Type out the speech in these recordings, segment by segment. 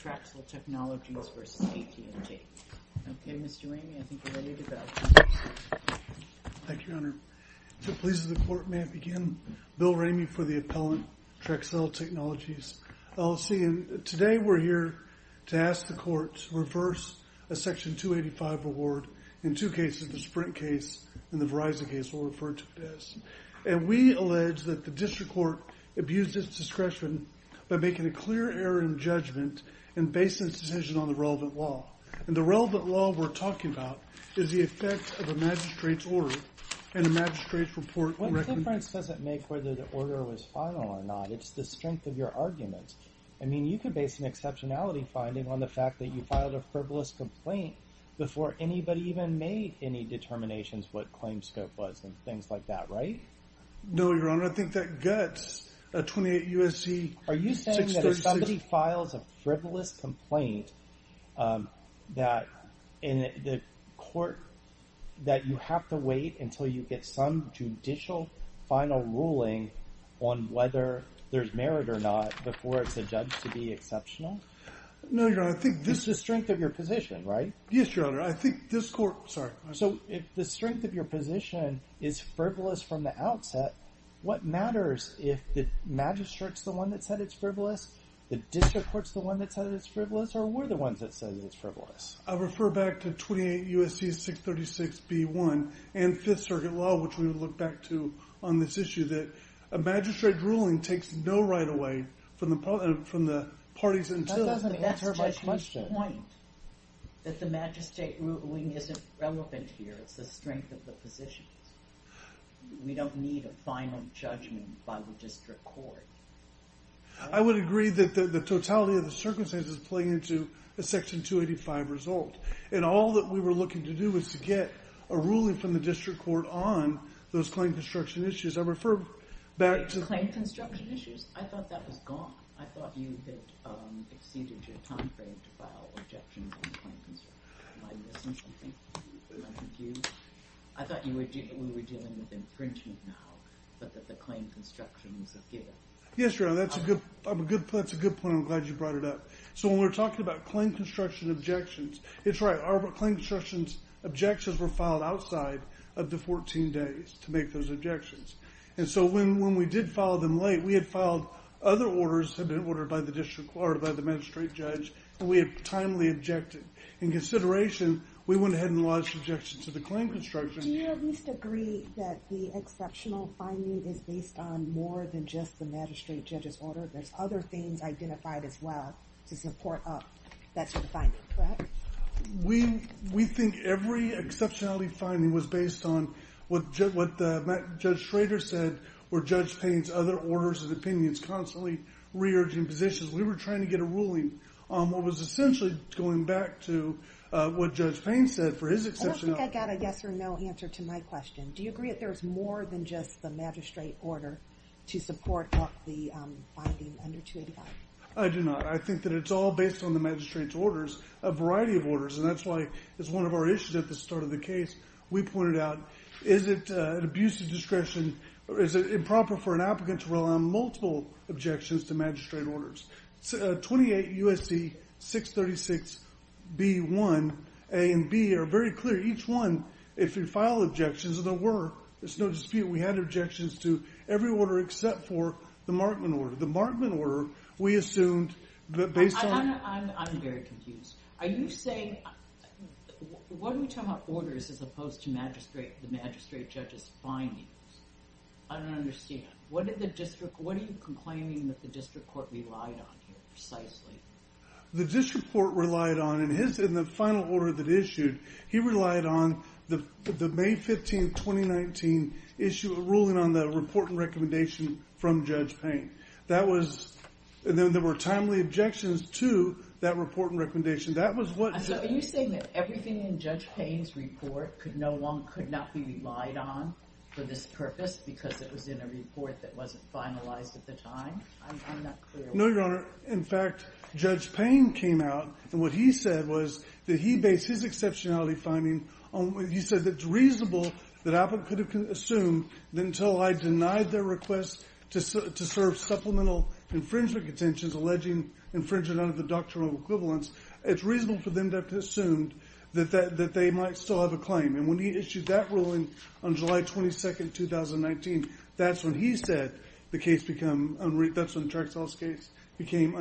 Okay, Mr. Ramey, I think you're ready to go. Thank you, Your Honor. If it pleases the Court, may I begin? Bill Ramey for the appellant, Traxcell Technologies, LLC. Today we're here to ask the Court to reverse a Section 285 award in two cases, the Sprint case and the Verizon case. We'll refer to this. We allege that the District Court abused its discretion by making a clear error in judgment and basing its decision on the relevant law. And the relevant law we're talking about is the effect of a magistrate's order and a magistrate's report and recommendation. What difference does it make whether the order was final or not? It's the strength of your argument. I mean, you could base an exceptionality finding on the fact that you filed a frivolous complaint before anybody even made any determinations what claim scope was and things like that, right? No, Your Honor. Your Honor, I think that guts a 28 U.S.C. 636. Are you saying that if somebody files a frivolous complaint that in the court that you have to wait until you get some judicial final ruling on whether there's merit or not before it's adjudged to be exceptional? No, Your Honor. I think this... It's the strength of your position, right? Yes, Your Honor. I think this Court... Sorry. So if the strength of your position is frivolous from the outset, what matters if the magistrate's the one that said it's frivolous, the district court's the one that said it's frivolous, or we're the ones that said it's frivolous? I refer back to 28 U.S.C. 636 B.1 and Fifth Circuit Law, which we would look back to on this issue, that a magistrate ruling takes no right away from the parties until... That doesn't answer my question. That's just your point, that the magistrate ruling isn't relevant here. It's the strength of the position. We don't need a final judgment by the district court. I would agree that the totality of the circumstances play into a Section 285 result, and all that we were looking to do was to get a ruling from the district court on those claim construction issues. I refer back to... Claim construction issues? I thought that was gone. I thought you had exceeded your time frame to file objections on claim construction. Am I missing something? Am I confused? I thought we were dealing with infringement now, but that the claim construction was a fear. Yes, Your Honor, that's a good point. I'm glad you brought it up. So when we're talking about claim construction objections, it's right, our claim construction objections were filed outside of the 14 days to make those objections. And so when we did file them late, we had filed other orders that had been ordered by the district court or by the magistrate judge, and we had timely objected. In consideration, we went ahead and lodged objections to the claim construction. Do you at least agree that the exceptional finding is based on more than just the magistrate judge's order? There's other things identified as well to support that sort of finding, correct? We think every exceptionality finding was based on what Judge Schrader said or Judge Payne's other orders and opinions constantly re-urging positions. We were trying to get a ruling on what was essentially going back to what Judge Payne said for his exceptionality. I don't think I got a yes or no answer to my question. Do you agree that there's more than just the magistrate order to support the finding under 285? I do not. I think that it's all based on the magistrate's orders, a variety of orders, and that's why it's one of our issues at the start of the case. We pointed out, is it an abuse of discretion? Is it improper for an applicant to rely on multiple objections to magistrate orders? 28 U.S.C. 636b1a and b are very clear. Each one, if you file objections, and there were, there's no dispute, we had objections to every order except for the Markman order. The Markman order, we assumed that based on... I'm very confused. Are you saying... What do you tell me about orders as opposed to the magistrate judge's findings? I don't understand. What did the district... What are you complaining that the district court relied on here, precisely? The district court relied on, in the final order that issued, he relied on the May 15, 2019, issue of ruling on the report and recommendation from Judge Payne. That was... And then there were timely objections to that report and recommendation. That was what... So are you saying that everything in Judge Payne's report could not be relied on for this purpose because it was in a report that wasn't finalized at the time? I'm not clear. No, Your Honor. In fact, Judge Payne came out, and what he said was that he based his exceptionality finding on... He said that it's reasonable that Apple could have assumed that until I denied their request to serve supplemental infringement contentions alleging infringement under the doctrinal equivalence, it's reasonable for them to have assumed that they might still have a claim. And when he issued that ruling on July 22, 2019, that's when he said the case become unreason... That's when Tractell's case became...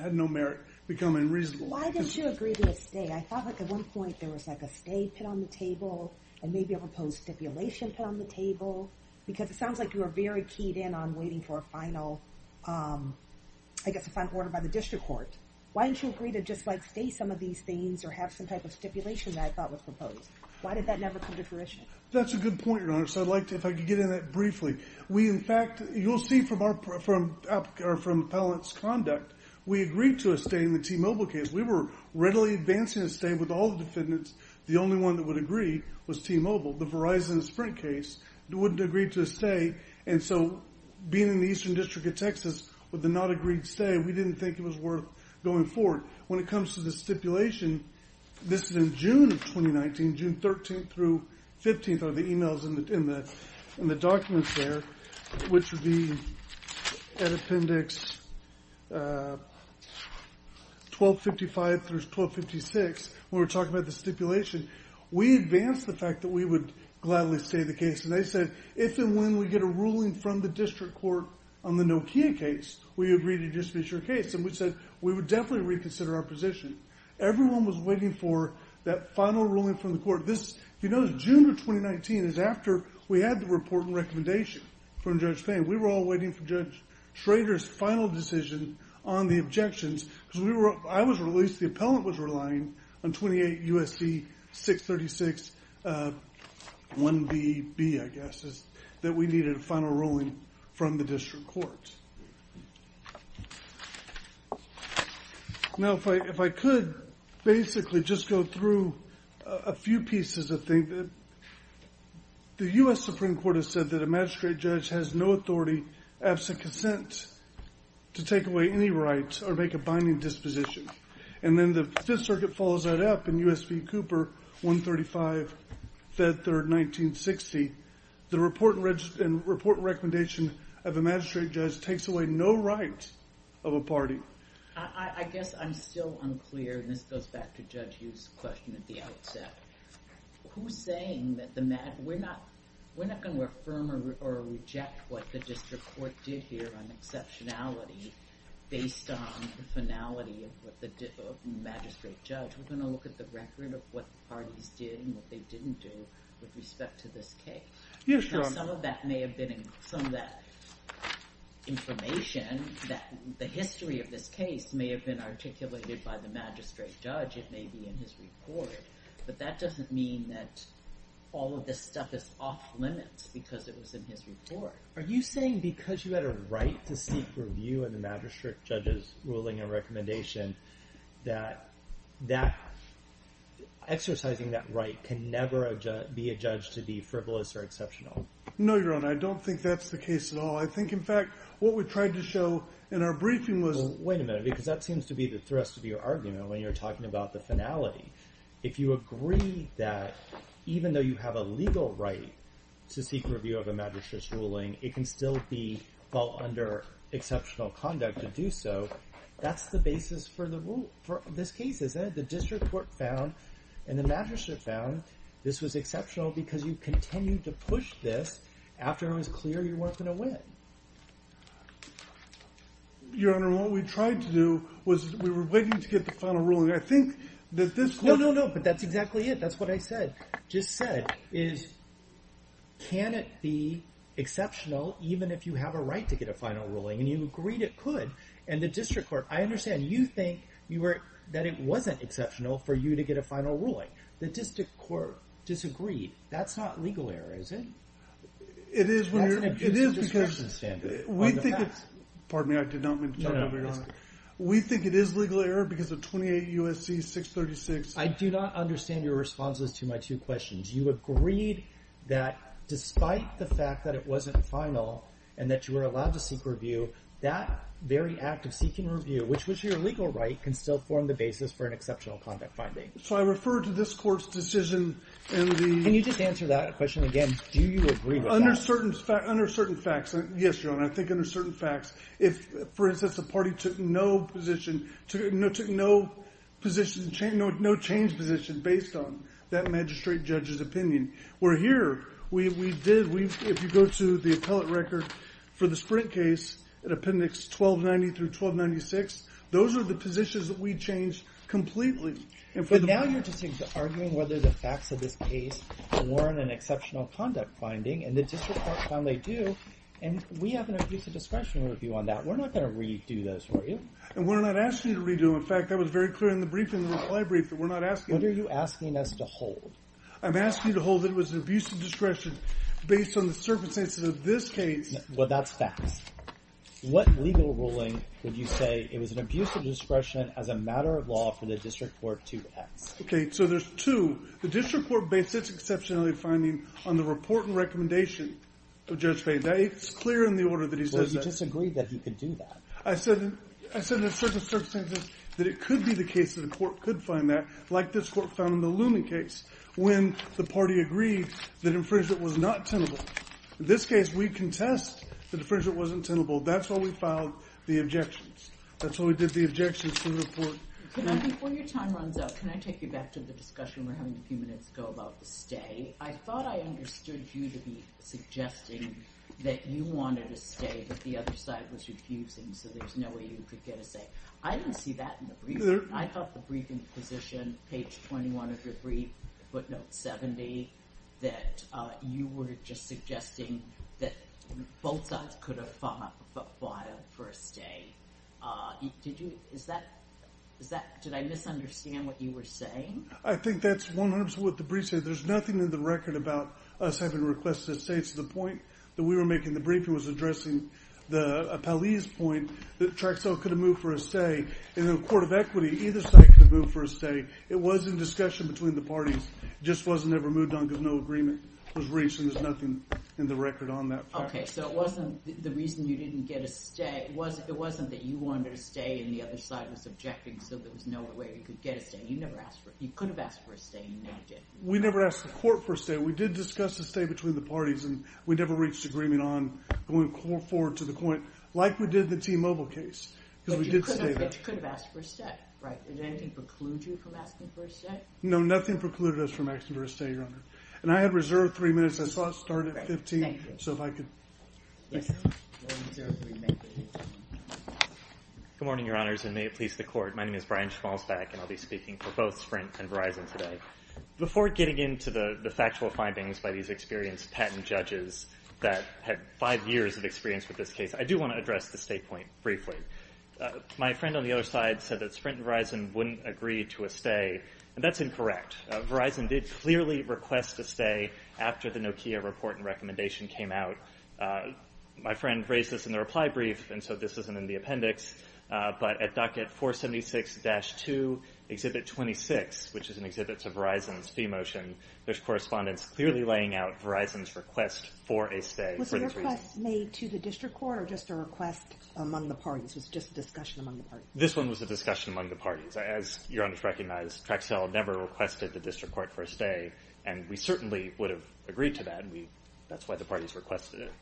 Had no merit, become unreasonable. Why didn't you agree to a stay? I thought, like, at one point, there was, like, a stay put on the table and maybe a proposed stipulation put on the table because it sounds like you were very keyed in on waiting for a final... I guess a final order by the district court. Why didn't you agree to just, like, stay some of these things or have some type of stipulation that I thought was proposed? Why did that never come to fruition? That's a good point, Your Honor. So I'd like to... If I could get into that briefly. We, in fact... You'll see from our... From appellant's conduct, we agreed to a stay in the T-Mobile case. We were readily advancing a stay with all the defendants. The only one that would agree was T-Mobile. The Verizon Sprint case wouldn't agree to a stay. And so being in the Eastern District of Texas with a not agreed stay, we didn't think it was worth going forward. When it comes to the stipulation, this is in June of 2019, June 13th through 15th are the emails in the documents there, which would be at appendix... 1255 through 1256. When we're talking about the stipulation, we advanced the fact that we would gladly stay the case. And they said, if and when we get a ruling from the district court on the Nokia case, we agree to dismiss your case. And we said, we would definitely reconsider our position. Everyone was waiting for that final ruling from the court. You notice June of 2019 is after we had the report and recommendation from Judge Payne. We were all waiting for Judge Schrader's final decision on the objections. I was released, the appellant was relying on 28 U.S.C. 636 1BB, I guess, that we needed a final ruling from the district court. Now, if I could, basically just go through a few pieces of things. The U.S. Supreme Court has said that a magistrate judge has no authority, absent consent, to take away any rights or make a binding disposition. And then the Fifth Circuit follows that up in U.S. v. Cooper, 135, Feb. 3, 1960. The report and recommendation of a magistrate judge takes away no rights of a party. I guess I'm still unclear, and this goes back to Judge Hughes' question at the outset. Who's saying that we're not going to affirm or reject what the district court did here on exceptionality based on the finality of the magistrate judge? We're going to look at the record of what the parties did and what they didn't do with respect to this case. Yes, Your Honor. Now, some of that may have been some of that information that the history of this case may have been articulated by the magistrate judge. It may be in his report, but that doesn't mean that all of this stuff is off limits because it was in his report. Are you saying because you had a right to seek review in the magistrate judge's ruling and recommendation that exercising that right can never be a judge to be frivolous or exceptional? No, Your Honor. I don't think that's the case at all. I think, in fact, what we tried to show in our briefing was... Well, wait a minute because that seems to be the thrust of your argument when you're talking about the finality. If you agree that even though you have a legal right to seek review of a magistrate's ruling, it can still be under exceptional conduct to do so, that's the basis for this case, isn't it? The district court found and the magistrate found this was exceptional because you continued to push this after it was clear you weren't going to win. Your Honor, what we tried to do was we were waiting to get the final ruling. I think that this court... No, no, no, but that's exactly it. That's what I said. Just said is can it be exceptional even if you have a right to get a final ruling and you agreed it could and the district court... I understand you think that it wasn't exceptional for you to get a final ruling. The district court disagreed That's not legal error, is it? It is when you're... That's an abuse of discretion standard on the facts. Pardon me, I did not mean to tell you that, Your Honor. We think it is legal error because of 28 U.S.C. 636. I do not understand your responses to my two questions. You agreed that despite the fact that it wasn't final and that you were allowed to seek review, that very act of seeking review, which was your legal right, can still form the basis for an exceptional conduct finding. So I refer to this court's decision and the... Can you just answer that question again? Do you agree with that? Under certain facts, yes, Your Honor, I think under certain facts, if, for instance, the party took no position, took no position, no change position based on that magistrate judge's opinion. Where here, we did, if you go to the appellate record for the Sprint case in Appendix 1290 through 1296, those are the positions that we changed completely. But now you're just arguing whether the facts of this case were in an exceptional conduct finding and the district court found they do and we have an abusive discretion review on that. We're not going to redo those for you. And we're not asking you to redo them. In fact, that was very clear in the briefing, in the reply brief that we're not asking you. What are you asking us to hold? I'm asking you to hold that it was an abusive discretion based on the circumstances of this case. Well, that's facts. What legal ruling would you say it was an abusive discretion as a matter of law for the district court to ask? Okay, so there's two. The district court based its exceptionality finding on the report and recommendation of Judge Fahy. It's clear in the order that he says that. Well, he disagreed that he could do that. I said in certain circumstances that it could be the case that a court could find that like this court found in the Looming case when the party agreed that infringement was not tenable. In this case, we contest that infringement wasn't tenable. That's why we filed the objections. That's why we did the objections to the report. Before your time runs out, can I take you back to the discussion we were having a few minutes ago about the stay. I thought I understood you to be suggesting that you wanted to stay but the other side was refusing so there's no way you could get a stay. I didn't see that in the briefing. I thought the briefing position, page 21 of your brief, footnote 70, for a stay. Did you, is that, did I misunderstand what you were saying? I think that's a good question. I think that's a good question. I think that's 100% what the brief said. There's nothing in the record about us having requested a stay. It's the point that we were making in the briefing was addressing Pally's point that Traxell could have moved for a stay. In the Court of Equity, either side could have moved for a stay. It was in discussion between the parties. It just wasn't ever moved on because no agreement was reached and there's nothing in the record on that. Okay, so it wasn't the reason you didn't get a stay. It wasn't that you wanted a stay and the other side was objecting so there was no way you could get a stay. You never asked for, you could have asked for a stay, you never did. We never asked the Court for a stay. We did discuss a stay between the parties and we never reached agreement on going forward to the point like we did the T-Mobile case because we did stay there. But you could have asked for a stay, right? Did anything preclude you from asking for a stay? No, nothing precluded us from asking for a stay, Your Honor. And I have reserved three minutes, I thought it started at 15, so if I could... Good morning, Your Honors, and may it please the Court. My name is Brian Schmalzbach and I'll be speaking for both Sprint and Verizon today. Before getting into the factual findings by these experienced patent judges that had five years of experience with this case, I do want to address the stay point briefly. My friend on the other side said that Sprint and Verizon wouldn't agree to a stay and that's incorrect. Verizon did clearly request a stay after the Nokia report and recommendation came out. My friend raised this in the reply brief and so this isn't in the appendix, but at docket 476-2, Exhibit 26, which is an exhibit to Verizon's fee motion, there's correspondence clearly laying out Verizon's request for a stay for these reasons. Was the request made to the District Court or just a request among the parties? Was it just a discussion among the parties? This one was a discussion among the parties. As Your Honor and I both recognize, Traxel never requested the District Court for a stay and we certainly would have agreed to that and that's why the parties requested it.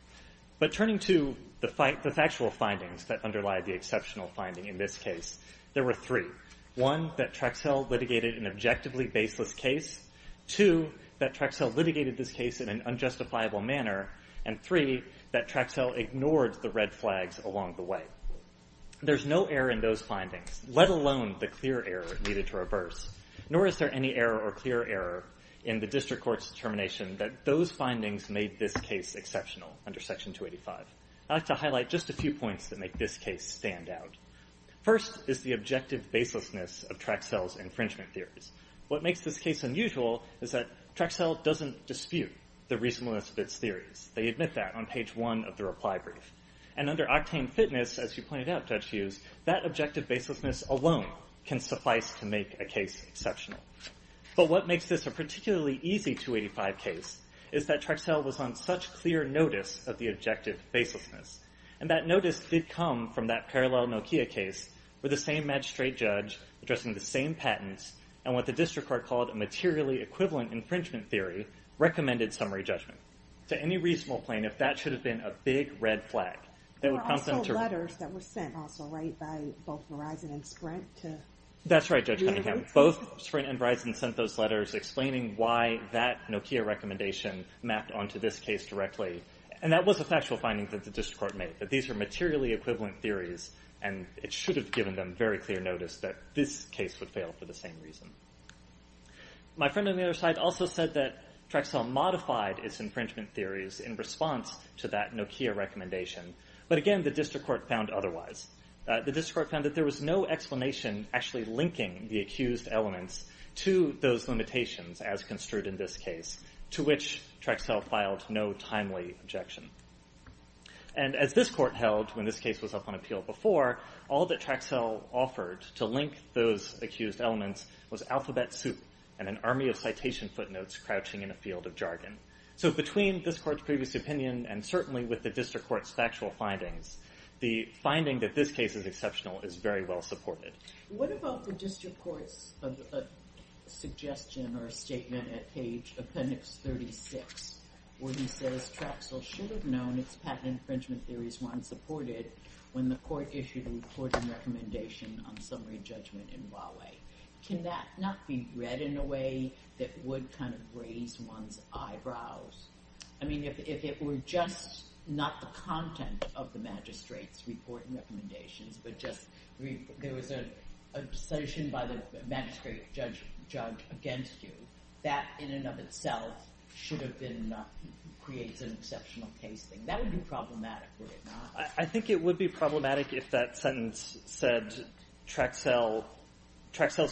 But turning to the factual findings that underlie the exceptional finding in this case, there were three. One, that Traxel litigated an objectively baseless case. Two, that Traxel litigated this case in an unjustifiable manner. And three, that Traxel ignored the red flags along the way. There's no error in those findings, let alone the clear error that needed to reverse. Nor is there any error or clear error in the District Court's determination that those findings made this case exceptional under Section 285. I'd like to highlight just a few points that make this case stand out. First, is the objective baselessness of Traxel's infringement theories. What makes this case unusual is that Traxel doesn't dispute the reasonableness of its theories. They admit that on page one of the reply brief. And under Octane Fitness, as you pointed out, Judge Hughes, that objective baselessness alone can suffice to make a case exceptional. But what makes this a particularly easy 285 case is that Traxel was on such clear notice of the objective baselessness. And that notice did come from that parallel Nokia case with the same magistrate judge addressing the same patents and what the District Court called a materially equivalent infringement theory recommended summary judgment. To any reasonable plaintiff, that should have been a big red flag. There were also letters that were sent, also, right, by both Verizon and Sprint to the interview. That's right, Judge Cunningham. Both Sprint and Verizon sent those letters explaining why that Nokia recommendation mapped onto this case directly. And that was a factual finding that the District Court made, that these are materially equivalent theories and it should have given them very clear notice that this case would fail for the same reason. My friend on the other side also said that Traxel modified its infringement theories in response to that Nokia recommendation. But again, the District Court found otherwise. The District Court found that there was no explanation actually linking the accused elements to those limitations as construed in this case, to which Traxel filed no timely objection. And as this court held when this case was up on appeal before, all that Traxel offered to link those accused elements was alphabet soup and an army of citation footnotes crouching in a field of jargon. So between this court's previous opinion and certainly with the District Court's factual findings, the finding that this case is exceptional is very well supported. What about the District Court's suggestion or statement at page appendix 36 where he says Traxel should have known its patent infringement theories weren't supported when the court issued a reporting recommendation on summary judgment in Huawei? Can that not be read in a way that would kind of raise one's eyebrows? I mean, if it were just not the content of the magistrate's reporting recommendations but just there was a decision by the magistrate judge against you, that in and of itself should have been created as an exceptional case thing. That would be problematic, would it not? I think it would be problematic if that sentence said Traxel's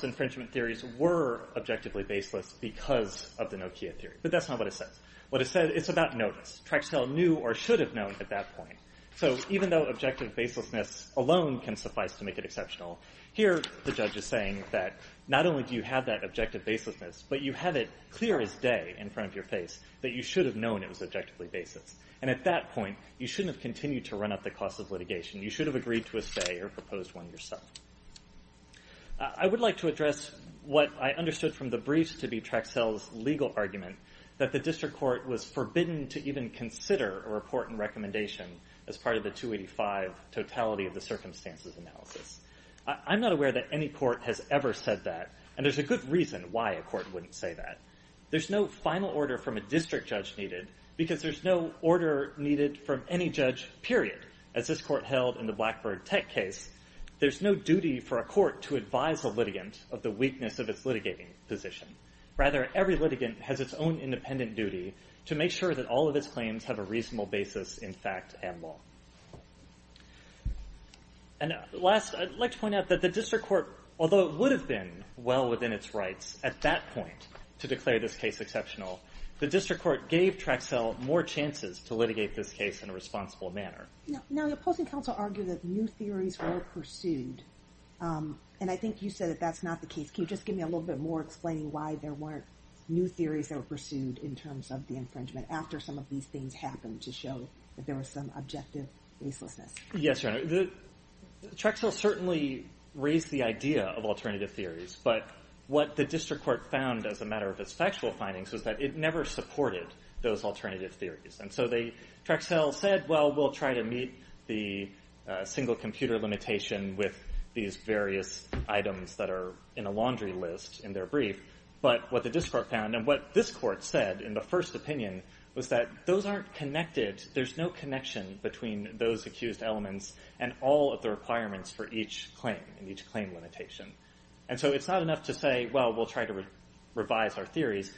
infringement theories were objectively baseless because of the Nokia theory. But that's not what it says. It's about notice. Traxel knew or should have known at that point. So even though objective baselessness alone can suffice to make it exceptional, here the judge is saying that not only do you have that objective baselessness but you have it clear as day in front of your face that you should have known it was objectively baseless. And at that point you shouldn't have continued to run up the cost of litigation. You should have agreed to a say or proposed one yourself. I would like to address what I understood from the briefs to be Traxel's legal argument that the District Court was forbidden to even consider a report and recommendation as part of the 285 totality of the circumstances analysis. I'm not aware that any court has ever said that and there's a good reason why a court wouldn't say that. There's no final order from a district judge needed because there's no order needed from any judge period as this court held in the Blackbird Tech case. There's no duty for a court to advise a litigant of the weakness of its litigating position. Rather every litigant has its own position and the District Court gave Traxel more chances to litigate this case in a responsible manner. Now the opposing counsel argued that new theories were pursued and I think you said that that's not the case. Can you just give me a little more that? The District Court found that it never supported those alternative theories. So Traxel said we'll try to meet the single computer limitation with these various items that are in a laundry list in their brief but what the District Court found and what this Court said in the first opinion was that those aren't connected, there's no connection between those accused elements and all of the requirements for each claim and each claim limitation. So it's not enough to say we'll try to revise our case and make it more objective. The District Court gave Traxel another chance to litigate the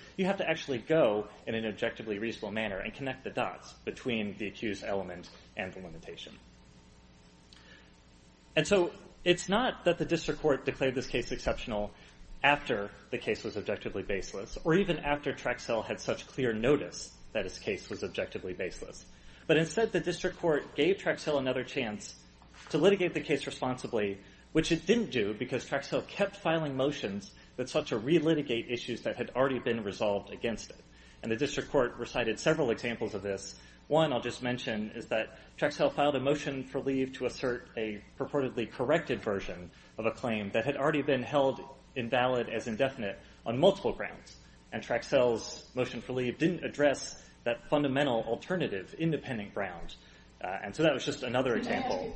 case responsibly which it didn't do because Traxel kept filing motions that sought to re-litigate issues that had already been resolved against it. The District Court filed another motion on multiple grounds and Traxel's motion didn't address that fundamental alternative independent ground. So that was just another example.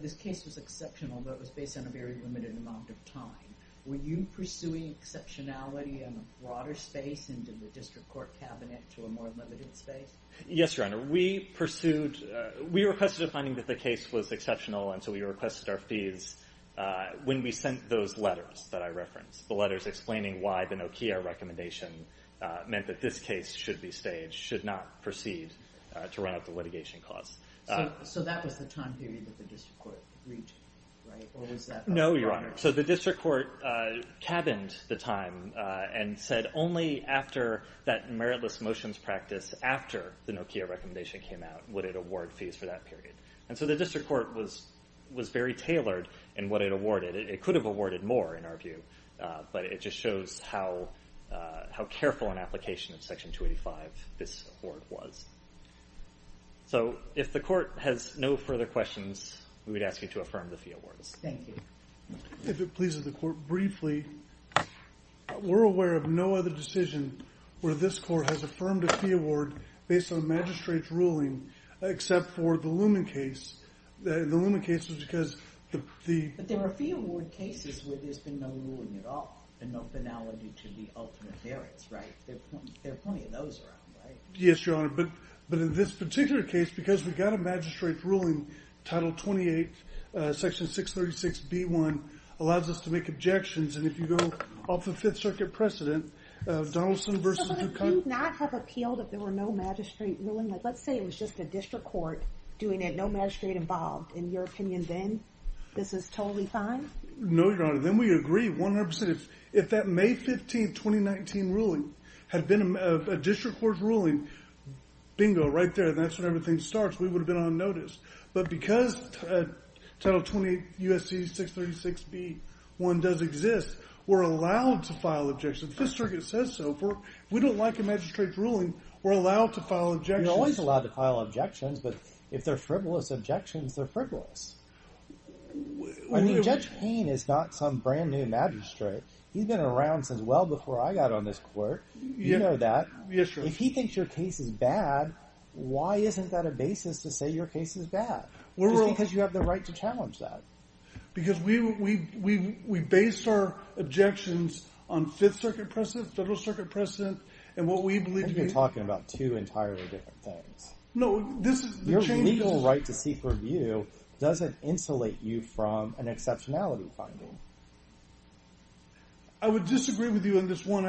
This case was exceptional but based on a limited amount of time. Were you pursuing exceptionality in a broader space and did the District Court cabinet to a more limited space? Yes, Your Honor. We requested our fees when we sent those letters. The letters explained why the Nokia recommendation meant that this case should not proceed to run up the litigation costs. So that was the time period that the District Court reached? No, Your Honor. The District Court cabined the meritless motions practice after the Nokia recommendation came out. So the District Court was very tailored in what it awarded. It could have awarded more but it shows how careful it was in Section 285. If the Court has no further objections 636, the District Court has affirmed a fee award based on the magistrate's ruling except for the Luhman case. But there were fee award cases where there was no ruling at all and no finality to the ultimate merits, right? There are plenty of those around, right? Yes, Your Honor, but in this particular case, because we got a magistrate ruling, Title 28, Section 636B1 allows us to make objections and if you go off the Fifth Circuit precedent of Donaldson versus Hukai... So they could not have appealed if there were no magistrate ruling? Let's say it was just a district court doing it, no magistrate involved. In your opinion then, this is totally fine? No, Your Honor, then we agree 100 percent. If that May 15, 2019 ruling had been a district court ruling, bingo, right there, and that's when everything starts, we would have been on notice. But because Title 28, U.S.C. 636B1 does exist, we're allowed to file objections. The Fifth Circuit says so. If we don't like a magistrate ruling, we're allowed to file objections. If he thinks your case is bad, why isn't that a basis to say your case is bad? Just because you have the right to challenge that. Because we base our objections on Fifth Circuit precedent, Federal Circuit precedent, and what we believe to be a legal right to seek review doesn't insulate you from exceptionality finding. I would disagree with you on this one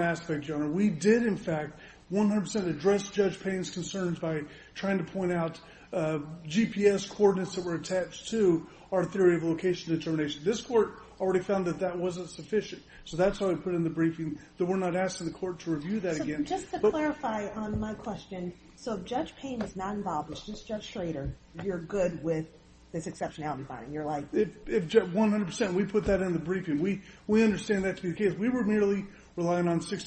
aspect, Your Honor. We did, in fact, 100% address Judge Payne's concerns by trying to point out GPS coordinates that were attached to our theory of location determination. This Court already found that that wasn't sufficient, so that's why we put in the briefing that we're not asking the Court to review that again. So just to clarify on my question, so if Judge Payne is not involved with Justice Schrader, you're good with this exceptionality and you don't think that this Court is going to review this case and that this Court is going to review this case and that this Court is going to